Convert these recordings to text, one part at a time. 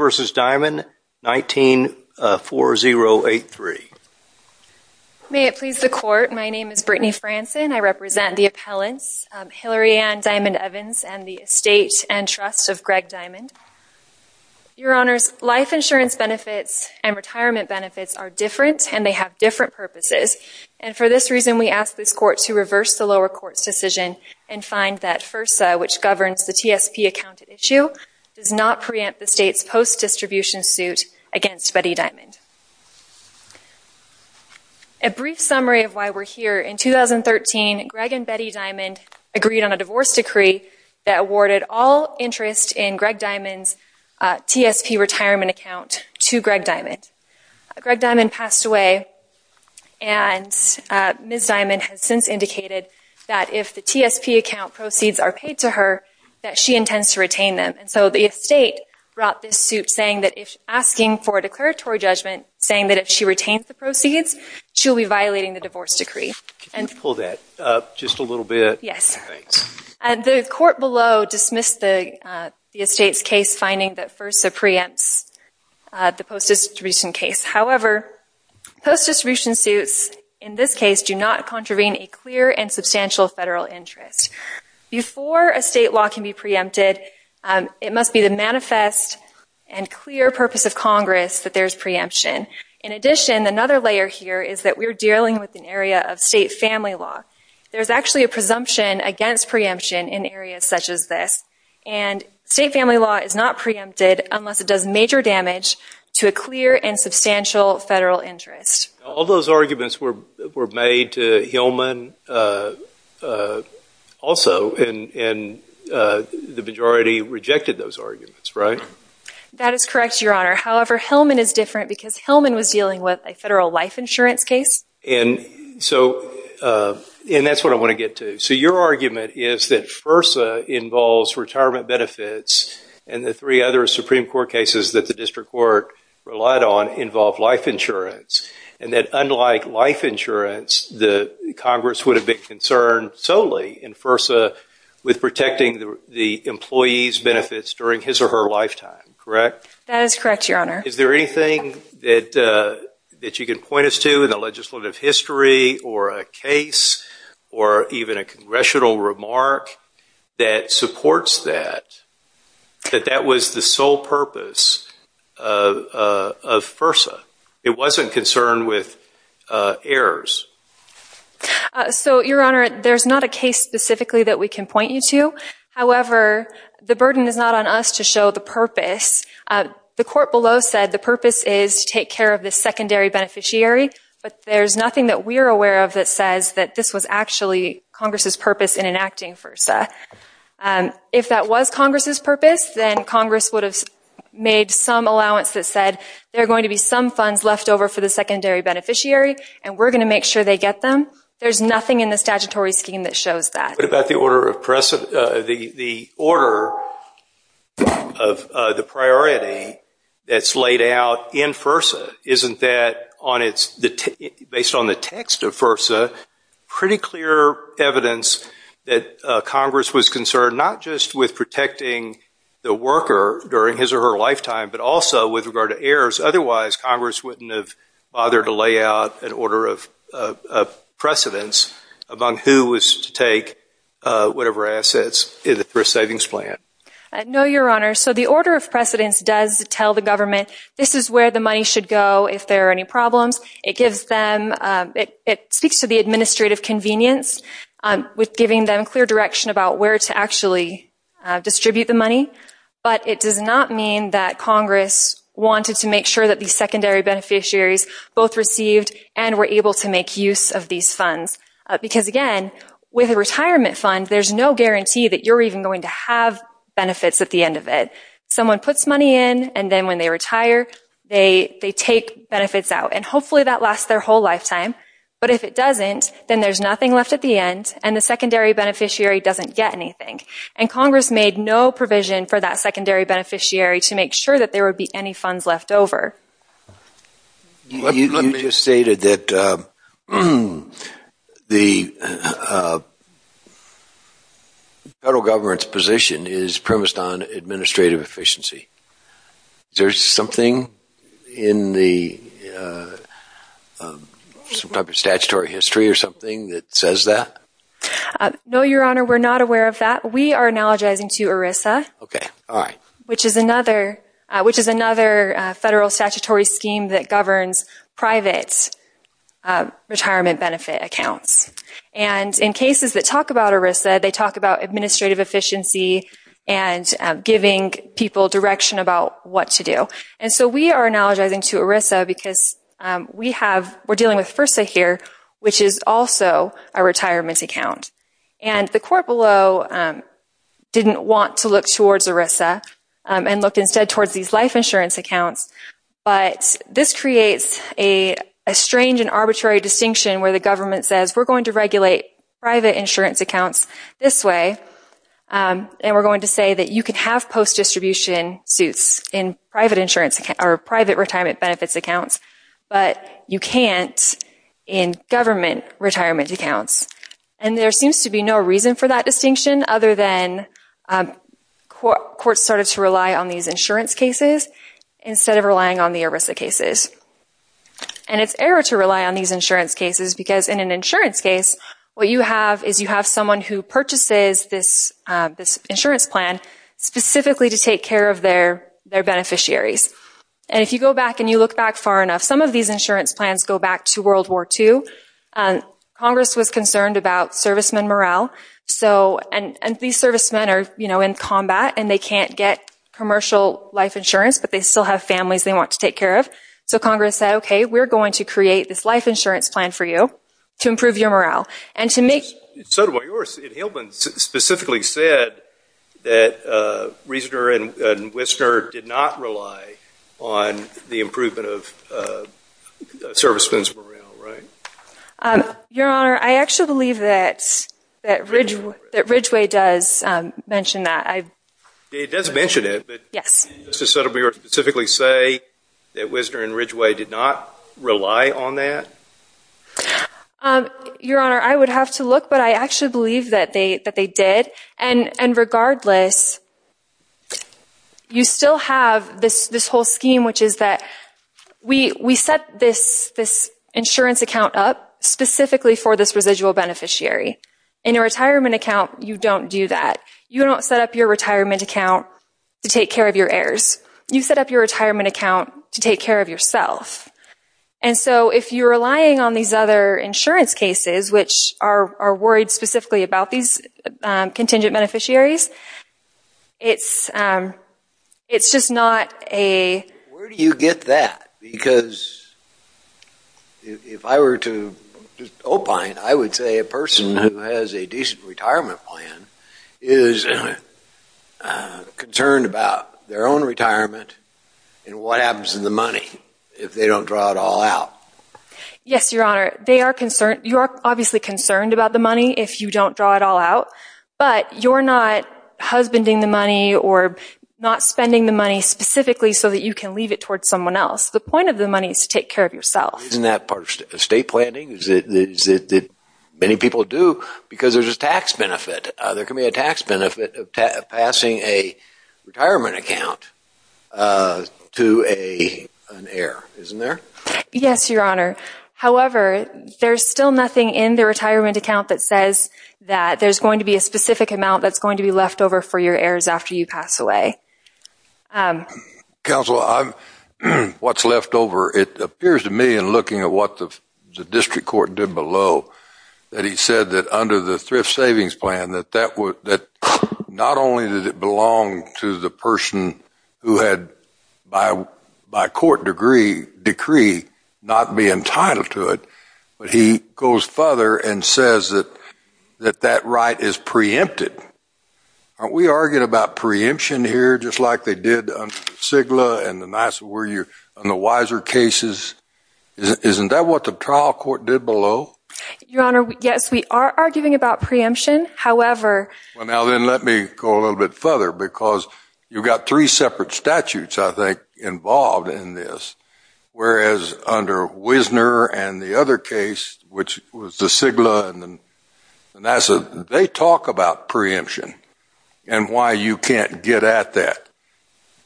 v. Diamond 19-4083. May it please the court, my name is Brittany Franson. I represent the appellants Hillary Ann Diamond Evans and the estate and trust of Greg Diamond. Your honors, life insurance benefits and retirement benefits are different and they have different purposes and for this reason we ask this court to reverse the lower court's decision and find that FERSA, which governs the TSP account issue, does not preempt the state's post distribution suit against Betty Diamond. A brief summary of why we're here, in 2013 Greg and Betty Diamond agreed on a divorce decree that awarded all interest in Greg Diamond's TSP retirement account to Greg Diamond. Greg Diamond passed away and Ms. Diamond has since indicated that if the TSP account proceeds are paid to her that she intends to retain them and so the estate brought this suit saying that if asking for a declaratory judgment saying that if she retains the proceeds she'll be violating the divorce decree. Can you pull that up just a little bit? Yes, and the court below dismissed the estate's case finding that FERSA preempts the post distribution case. However, post distribution suits in this case do not contravene a clear and substantial federal interest. Before a state law can be preempted it must be the manifest and clear purpose of Congress that there's preemption. In addition, another layer here is that we're dealing with an area of state family law. There's actually a presumption against preemption in areas such as this and state family law is not preempted unless it does major damage to a clear and substantial federal interest. All those arguments were made to Hillman also and the majority rejected those arguments, right? That is correct, Your Honor. However, Hillman is different because Hillman was dealing with a federal life insurance case. And so and that's what I want to get to. So your argument is that FERSA involves retirement benefits and the three other Supreme Court cases that the district court relied on involved life insurance and that unlike life insurance the Congress would have been concerned solely in FERSA with protecting the employees benefits during his or her lifetime, correct? That is correct, Your Honor. Is there anything that that you can point us to in the legislative history or a case or even a congressional remark that supports that? That that was the sole purpose of FERSA. It wasn't concerned with errors. So, Your Honor, there's not a case specifically that we can point you to. However, the burden is not on us to show the purpose. The court below said the purpose is to take care of this secondary beneficiary but there's nothing that we're aware of that says that this was actually Congress's purpose in enacting FERSA. If that was Congress's purpose then Congress would have made some allowance that said there are going to be some funds left over for the secondary beneficiary and we're going to make sure they get them. There's nothing in the statutory scheme that shows that. What about the order of the order of the priority that's laid out in FERSA? Isn't that on its the based on the text of protecting the worker during his or her lifetime but also with regard to errors otherwise Congress wouldn't have bothered to lay out an order of precedence among who was to take whatever assets in the Thrift Savings Plan. No, Your Honor. So the order of precedence does tell the government this is where the money should go if there are any problems. It gives them it speaks to the administrative convenience with giving them clear direction about where to actually distribute the money but it does not mean that Congress wanted to make sure that these secondary beneficiaries both received and were able to make use of these funds because again with a retirement fund there's no guarantee that you're even going to have benefits at the end of it. Someone puts money in and then when they retire they they take benefits out and hopefully that lasts their whole lifetime but if it doesn't then there's nothing left at the end and the secondary beneficiary doesn't get anything and Congress made no provision for that secondary beneficiary to make sure that there would be any funds left over. You just stated that the federal government's position is premised on administrative efficiency. There's something in the some type of statutory history or something that says that? No, Your Honor. We're not aware of that. We are analogizing to ERISA, which is another which is another federal statutory scheme that governs private retirement benefit accounts and in cases that talk about ERISA they talk about administrative efficiency and giving people direction about what to do and so we are analogizing to ERISA because we have we're dealing with FIRSA here which is also a retirement account and the court below didn't want to look towards ERISA and looked instead towards these life insurance accounts but this creates a strange and arbitrary distinction where the government says we're going to regulate private insurance accounts this way and we're going to say that you can have post-distribution suits in private insurance or private retirement benefits accounts but you can't in government retirement accounts and there seems to be no reason for that distinction other than courts started to rely on these insurance cases instead of relying on the ERISA cases and it's error to rely on these insurance cases because in an insurance case what you have is you have someone who purchases this insurance plan specifically to take care of their their beneficiaries and if you go back and you look back far enough some of these insurance plans go back to World War two and Congress was concerned about servicemen morale so and and these servicemen are you know in combat and they can't get commercial life insurance but they still have families they want to take care of so Congress said okay we're going to create this life insurance plan for you to improve your morale and to make so do I yours Hilburn specifically said that reasoner and Whistler did not rely on the improvement of servicemen's morale right your honor I actually believe that that Ridge that Ridgeway does mention that I it doesn't mention it but yes just a subtle beer specifically say that your honor I would have to look but I actually believe that they that they did and and regardless you still have this this whole scheme which is that we we set this this insurance account up specifically for this residual beneficiary in a retirement account you don't do that you don't set up your retirement account to take care of your heirs you set up your retirement account to take care of yourself and so if you're relying on these other insurance cases which are worried specifically about these contingent beneficiaries it's it's just not a where do you get that because if I were to opine I would say a person who has a decent retirement plan is concerned about their own retirement and what happens in the money if they don't draw it all out yes your concern you are obviously concerned about the money if you don't draw it all out but you're not husbanding the money or not spending the money specifically so that you can leave it towards someone else the point of the money is to take care of yourself isn't that part of state planning is it that many people do because there's a tax benefit there can be a tax benefit of passing a retirement account to a yes your honor however there's still nothing in the retirement account that says that there's going to be a specific amount that's going to be left over for your heirs after you pass away council I'm what's left over it appears to me and looking at what the district court did below that he said that under the thrift savings plan that that would that not only did it belong to the person who had by by court degree decree not be entitled to it but he goes further and says that that that right is preempted aren't we arguing about preemption here just like they did on sigla and the nice were you on the wiser cases isn't that what the trial court did below your honor yes we are arguing about preemption however well now then let me go a little bit further because you've got three separate statutes I think involved in this whereas under Wisner and the other case which was the sigla and then and I said they talk about preemption and why you can't get at that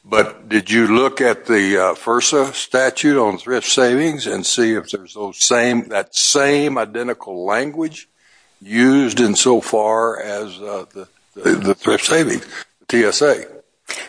but did you look at the first of statute on thrift savings and see if there's those same that same used in so far as the thrift savings TSA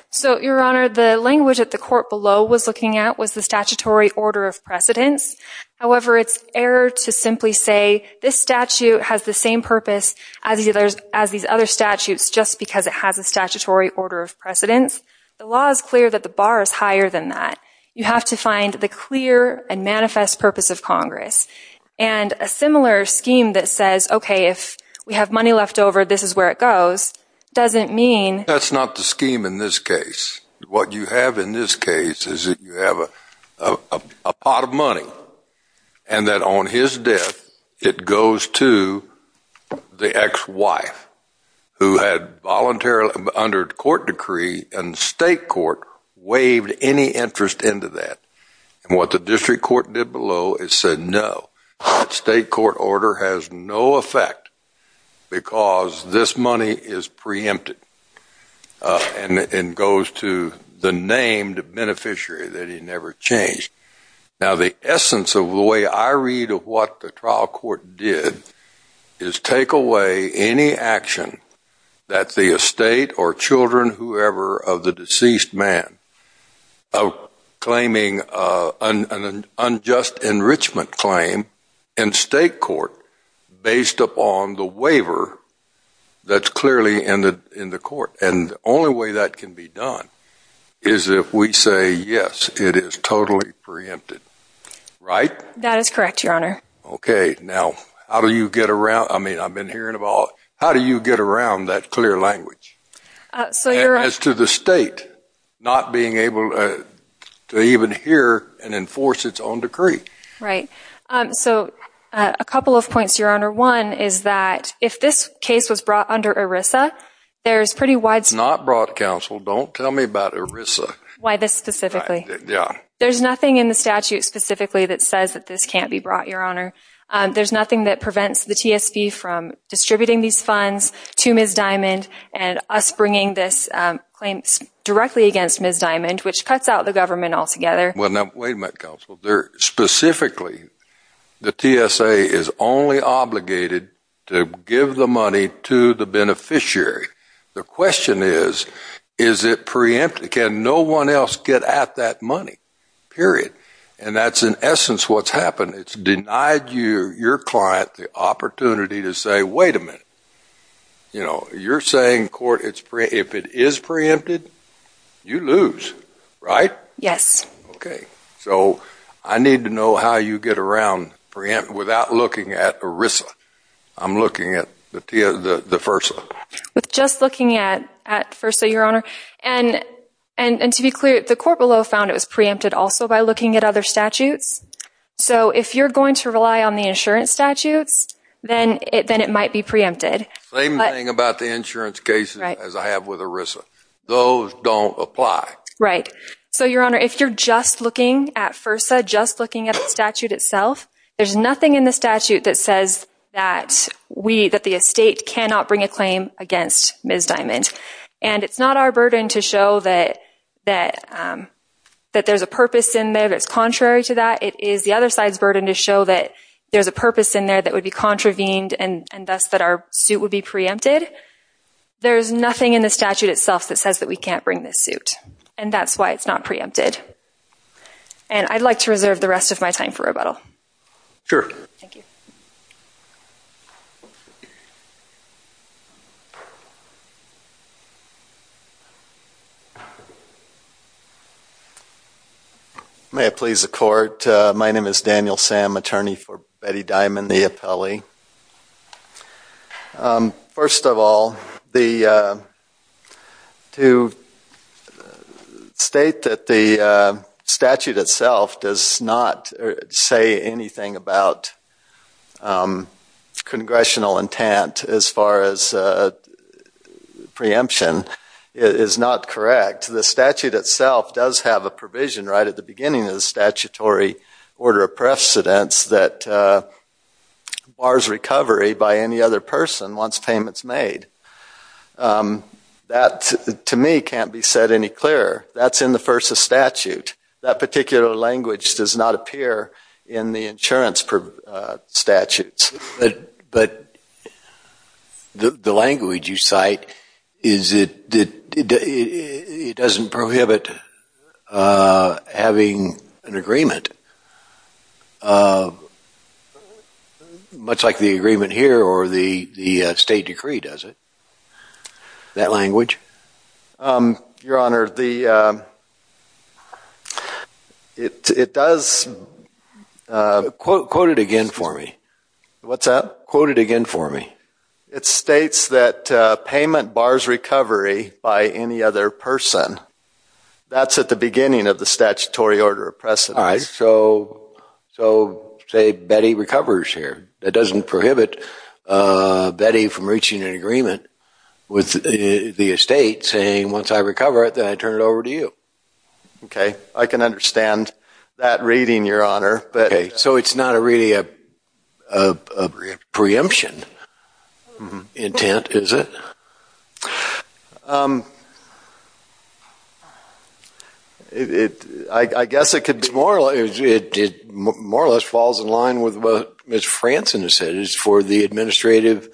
so your honor the language at the court below was looking at was the statutory order of precedence however it's error to simply say this statute has the same purpose as either as these other statutes just because it has a statutory order of precedence the law is clear that the bar is higher than that you have to find the clear and manifest purpose of Congress and a similar scheme that says okay if we have money left over this is where it goes doesn't mean that's not the scheme in this case what you have in this case is that you have a pot of money and that on his death it goes to the ex-wife who had voluntarily under court decree and state court waived any interest into that and what the district court did below is said no state court order has no effect because this money is preempted and it goes to the named beneficiary that he never changed now the essence of the way I read of what the trial court did is take away any action that the estate or deceased man claiming an unjust enrichment claim and state court based upon the waiver that's clearly ended in the court and only way that can be done is if we say yes it is totally preempted right that is correct your honor okay now how do you get around I mean I've been hearing about how do you get around that clear language so as to the state not being able to even hear and enforce its own decree right so a couple of points your honor one is that if this case was brought under ERISA there's pretty wide it's not brought counsel don't tell me about ERISA why this specifically yeah there's nothing in the statute specifically that says that this can't be brought your honor there's funds to Ms. Diamond and us bringing this claim directly against Ms. Diamond which cuts out the government altogether well now wait a minute counsel there specifically the TSA is only obligated to give the money to the beneficiary the question is is it preempted can no one else get at that money period and that's in essence what's happened it's denied you your client the opportunity to say wait a minute you know you're saying court it's pretty if it is preempted you lose right yes okay so I need to know how you get around preempt without looking at ERISA I'm looking at the first with just looking at at first so your honor and and to be clear the court below found it was preempted also by looking at other statutes so if you're going to rely on the insurance statutes then it then it might be preempted same thing about the insurance cases as I have with ERISA those don't apply right so your honor if you're just looking at first I just looking at the statute itself there's nothing in the statute that says that we that the estate cannot bring a claim against Ms. Diamond and it's not our burden to show that that that there's a purpose in there that's contrary to that it is the other side's burden to show that there's a purpose in there that would be contravened and and thus that our suit would be preempted there's nothing in the statute itself that says that we can't bring this suit and that's why it's not preempted and I'd like to reserve the rest of my time for rebuttal sure thank you may it please the court my name is Daniel Sam attorney for Betty Diamond the appellee first of all the to state that the statute itself does not say anything about congressional intent as far as preemption is not correct the statute itself does have a provision right at the beginning of the statutory order of precedence that bars recovery by any other person wants payments made that to me can't be said any clearer that's in the first of statute that insurance per statutes but but the language you cite is it it doesn't prohibit having an agreement much like the agreement here or the the state quoted again for me what's up quoted again for me it states that payment bars recovery by any other person that's at the beginning of the statutory order of precedence so so say Betty recovers here that doesn't prohibit Betty from reaching an agreement with the estate saying once I recover it then I turn it on her okay so it's not a really a preemption intent is it it I guess it could be moral it did more or less falls in line with what miss Franson has said is for the administrative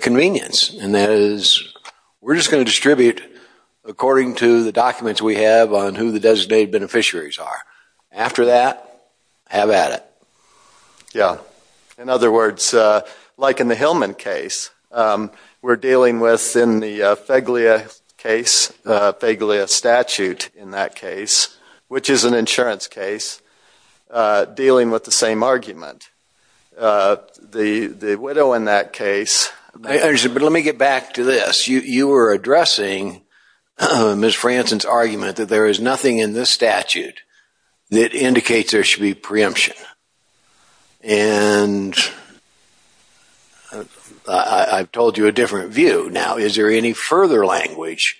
convenience and that is we're just going to distribute according to the documents we have on who the designated beneficiaries are after that have at it yeah in other words like in the Hillman case we're dealing with in the Feglia case Feglia statute in that case which is an insurance case dealing with the same argument the the widow in that case there's but let me get back to this you you were addressing miss Franson's that indicates there should be preemption and I've told you a different view now is there any further language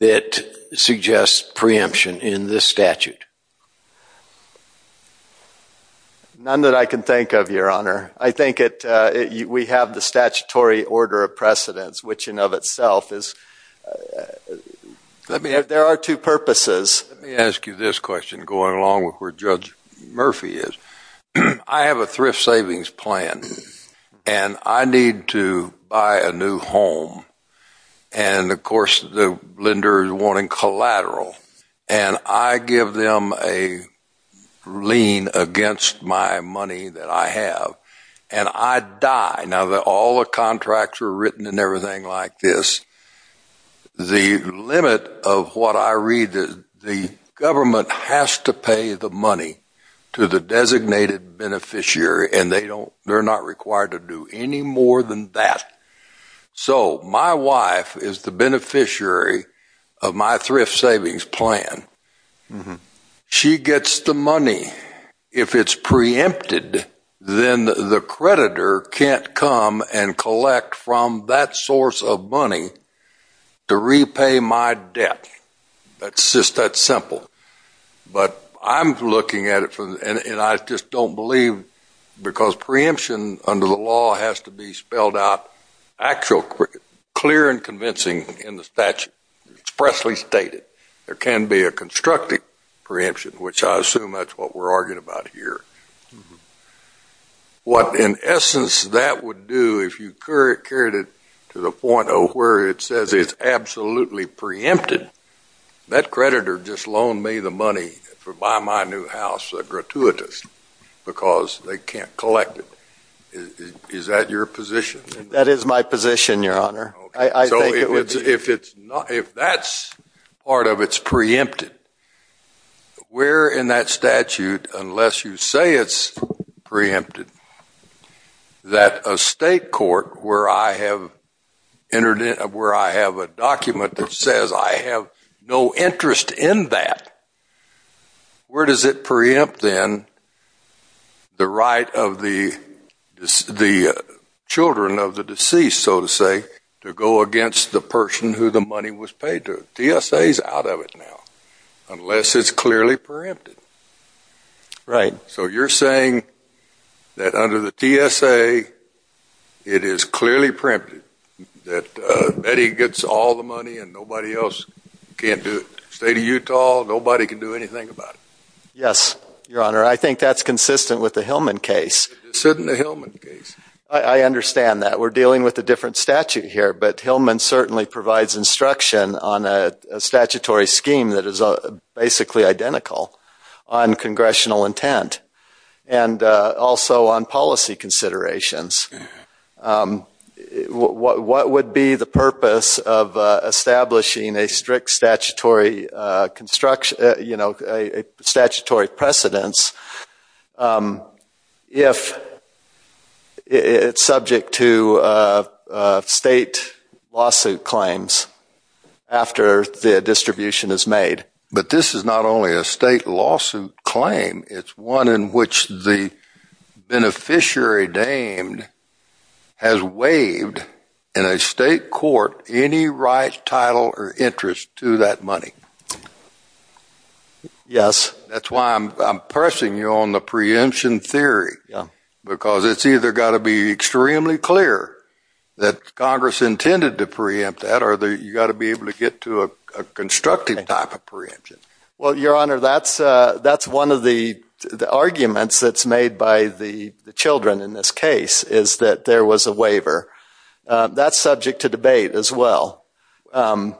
that suggests preemption in this statute none that I can think of your honor I think it we have the statutory order of precedence which in of itself is let me have there are two purposes ask you this question going along with where judge Murphy is I have a thrift savings plan and I need to buy a new home and of course the lender is wanting collateral and I give them a lien against my money that I have and I die now that all the contracts are written and everything like this the limit of what I read that the government has to pay the money to the designated beneficiary and they don't they're not required to do any more than that so my wife is the beneficiary of my thrift savings plan she gets the money if it's preempted then the creditor can't come and collect from that source of money to repay my debt that's just that simple but I'm looking at it from and I just don't believe because preemption under the law has to be spelled out actual quick clear and convincing in the statute expressly stated there can be a constructive preemption which I assume that's what we're arguing about here what in essence that would do if you carried it to the point of where it says it's absolutely preempted that creditor just loaned me the money for by my new house gratuitous because they can't collect it is that your position that is my position your honor if it's not if that's part of its preempted we're in that statute unless you say it's preempted that a state court where I have entered in where I have a document that says I have no interest in that where does it preempt then the right of the the children of the deceased so to say to go against the person who the money was paid to TSA is out of it now unless it's clearly preempted right so you're saying that under the TSA it is clearly preempted that Betty gets all the money and nobody else can't do it state of Utah nobody can do anything about it yes your honor I think that's consistent with the Hillman case sitting the Hillman case I understand that we're dealing with a different statute here but Hillman certainly provides instruction on a statutory scheme that is a basically identical on congressional intent and also on policy considerations what would be the purpose of establishing a strict statutory construction you know a statutory precedence if it's subject to state lawsuit claims after the distribution is made but this is not only a state lawsuit claim it's one in which the beneficiary dame has waived in a state court any right title or interest to that money yes that's why I'm pressing you on the preemption theory because it's either got to be extremely clear that Congress intended to preempt that are there you got to be able to get to a constructive type of preemption well your honor that's that's one of the arguments that's made by the children in this case is that there was a waiver that's subject to debate as well what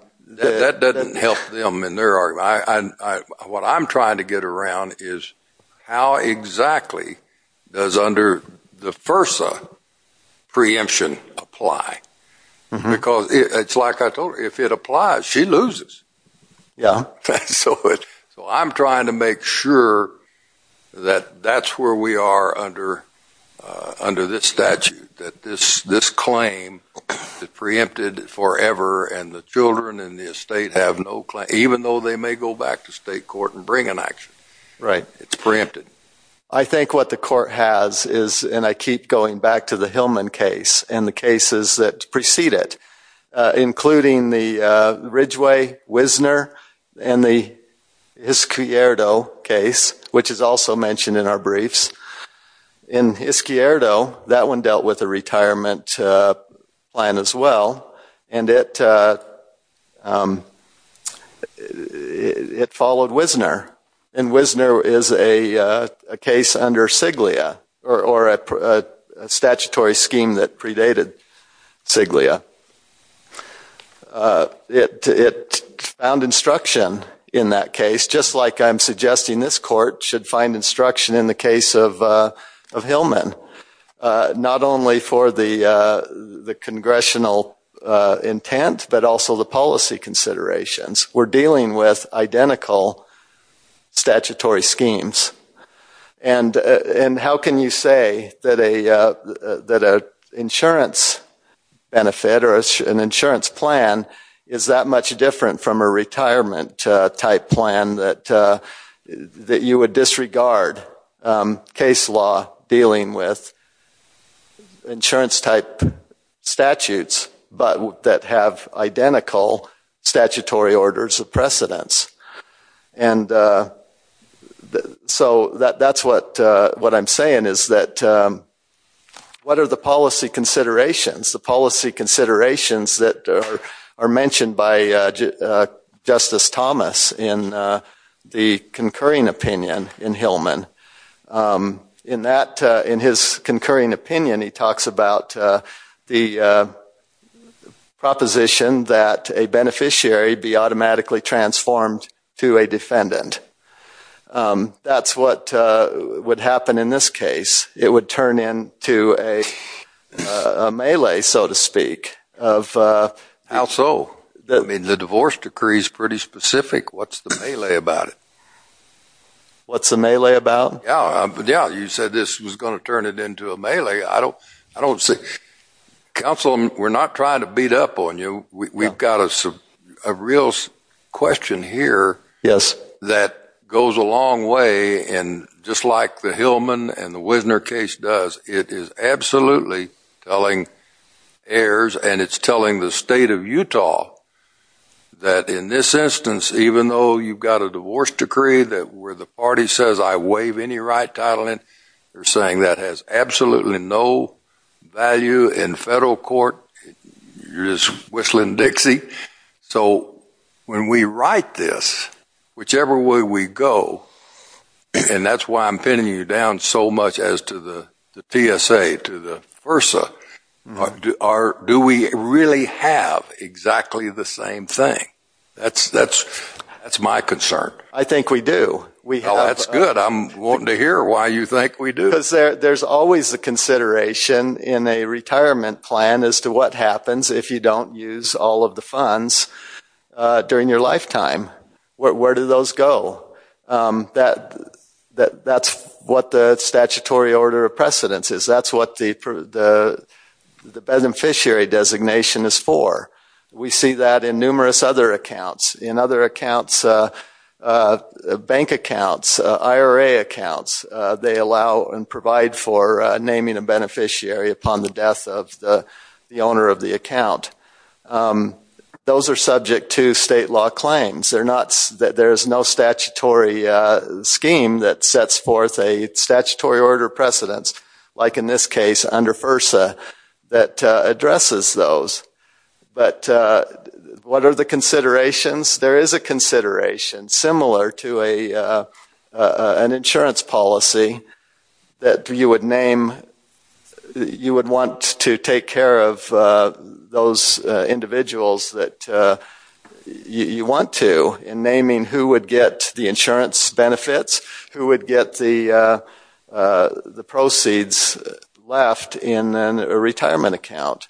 I'm trying to get around is how exactly does under the first preemption apply because it's like I told you if it applies she loses yeah so it so I'm sure that that's where we are under under this statute that this this claim the preempted forever and the children in the estate have no claim even though they may go back to state court and bring an action right it's preempted I think what the court has is and I keep going back to the Hillman case and the case which is also mentioned in our briefs in his Kierdo that one dealt with a retirement plan as well and it it followed Wisner and Wisner is a case under Siglia or a statutory scheme that predated Siglia it it found instruction in that case just like I'm suggesting this court should find instruction in the case of of Hillman not only for the the congressional intent but also the policy considerations we're dealing with identical statutory schemes and and how can you say that a that a insurance benefit or an insurance plan is that much different from a retirement type plan that that you would disregard case law dealing with insurance type statutes but that have identical statutory orders of precedence and so that that's what what I'm saying is that what are the considerations the policy considerations that are mentioned by Justice Thomas in the concurring opinion in Hillman in that in his concurring opinion he talks about the proposition that a beneficiary be automatically transformed to a melee so to speak of how so that I mean the divorce decrees pretty specific what's the melee about it what's the melee about yeah yeah you said this was gonna turn it into a melee I don't I don't see councilman we're not trying to beat up on you we've got a real question here yes that goes a long way and just like the Hillman and the Wisner case does it is absolutely telling heirs and it's telling the state of Utah that in this instance even though you've got a divorce decree that where the party says I waive any right title and they're saying that has absolutely no value in federal court you're just whistling Dixie so when we write this whichever way we go and that's why I'm pinning you down so much as to the PSA to the versa do we really have exactly the same thing that's that's that's my concern I think we do we know that's good I'm wanting to hear why you think we do this there there's always a consideration in a happens if you don't use all of the funds during your lifetime where do those go that that that's what the statutory order of precedence is that's what the beneficiary designation is for we see that in numerous other accounts in other accounts bank accounts IRA accounts they allow and provide for of the account those are subject to state law claims they're not that there's no statutory scheme that sets forth a statutory order precedence like in this case under FERSA that addresses those but what are the considerations there is a consideration similar to a an insurance policy that you would name you would want to take care of those individuals that you want to in naming who would get the insurance benefits who would get the the proceeds left in a retirement account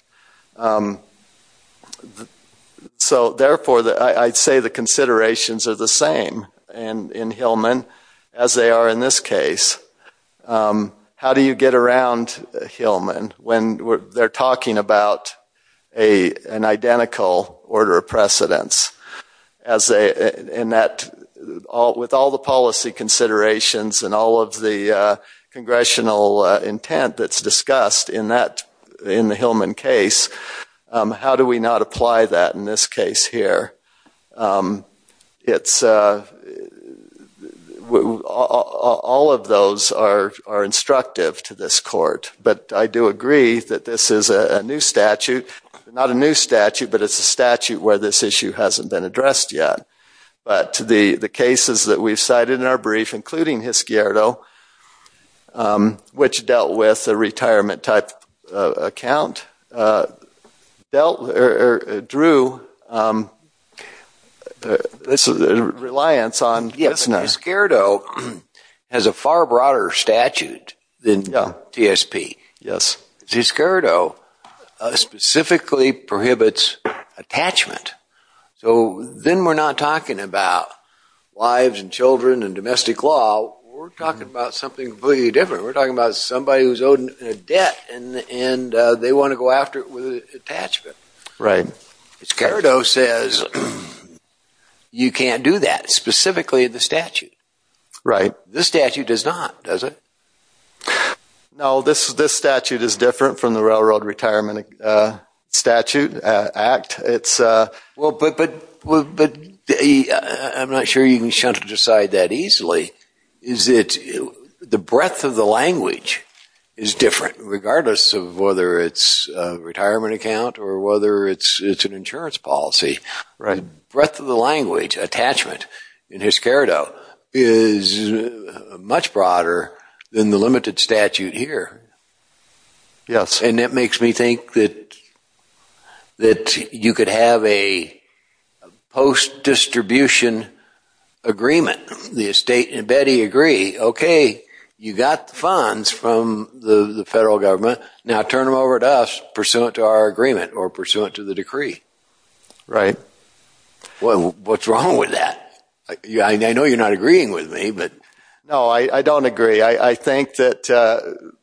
so therefore that I'd say the considerations are the same and in Hillman as they are in this case how do you get around Hillman when they're talking about a an identical order of precedence as they in that all with all the policy considerations and all of the congressional intent that's discussed in in the Hillman case how do we not apply that in this case here it's all of those are instructive to this court but I do agree that this is a new statute not a new statute but it's a statute where this issue hasn't been addressed yet but to the the cases that we've cited in our brief including his gear though which dealt with the retirement type account dealt or drew this is a reliance on yes no scared oh has a far broader statute then no TSP yes he's scared oh specifically prohibits attachment so then we're not talking about wives and children and domestic law we're talking about something completely different we're talking about somebody who's owed a debt and and they want to go after it with attachment right it's carried oh says you can't do that specifically the statute right this statute does not does it no this is this statute is different from the Railroad Retirement Statute Act it's well but but but I'm not sure you is different regardless of whether it's retirement account or whether it's it's an insurance policy right breath of the language attachment in his care though is much broader than the limited statute here yes and it makes me think that that you could have a post distribution agreement the estate and Betty agree okay you got the funds from the federal government now turn them over to us pursuant to our agreement or pursuant to the decree right well what's wrong with that yeah I know you're not agreeing with me but no I I don't agree I think that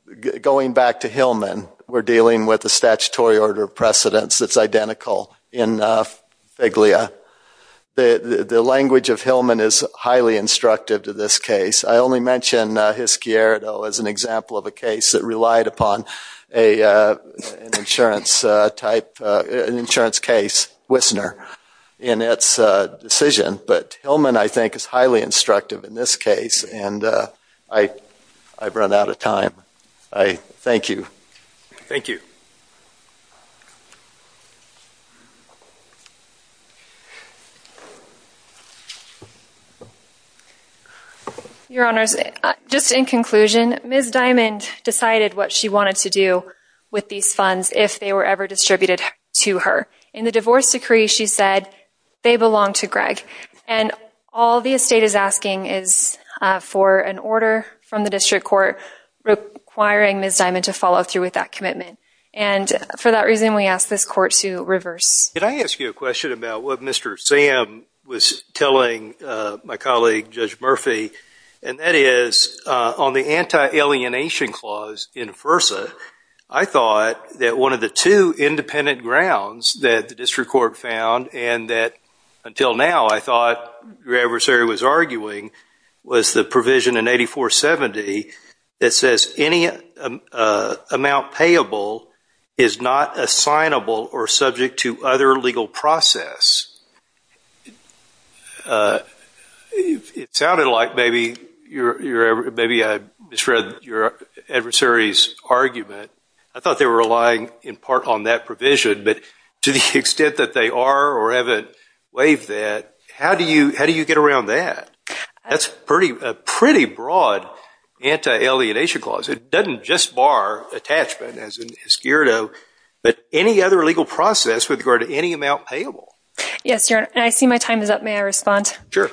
going back to Hillman we're dealing with the statutory order of precedence that's identical in fig Lea the the language of Hillman is highly instructive to this case I only mentioned his gear though as an example of a case that relied upon a insurance type an insurance case Whistler in its decision but Hillman I think is highly instructive in this case and I I've run out of time I thank you thank you your honors just in conclusion miss diamond decided what she wanted to do with these funds if they were ever distributed to her in the divorce decree she said they belong to Greg and all the estate is asking is for an order from the district court requiring miss diamond to follow through with that commitment and for that reason we asked this court to reverse did I ask you a Murphy and that is on the anti alienation clause in versa I thought that one of the two independent grounds that the district court found and that until now I thought your adversary was arguing was the provision in 8470 it says any amount payable is not assignable or subject to other legal process it sounded like maybe you're ever maybe I misread your adversaries argument I thought they were relying in part on that provision but to the extent that they are or haven't waived that how do you how do you get around that that's pretty pretty broad anti alienation clause it doesn't just bar attachment as but any other legal process with regard to any amount payable yes your I see my time is up may I respond sure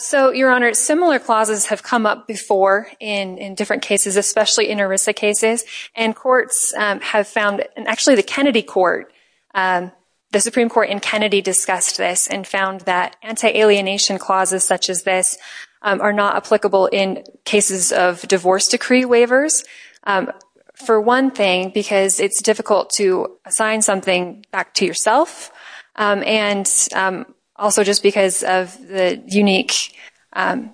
so your honor similar clauses have come up before in in different cases especially in Arisa cases and courts have found and actually the Kennedy Court the Supreme Court in Kennedy discussed this and found that anti alienation clauses such as this are not applicable in cases of it's difficult to assign something back to yourself and also just because of the unique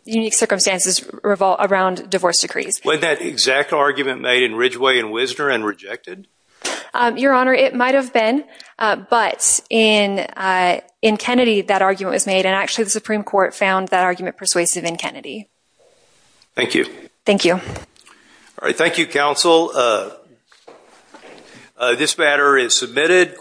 unique circumstances revolt around divorce decrees when that exact argument made in Ridgeway and Wisner and rejected your honor it might have been but in in Kennedy that argument was made and actually the Supreme Court found that argument persuasive in Kennedy thank you thank you all right thank you counsel this matter is submitted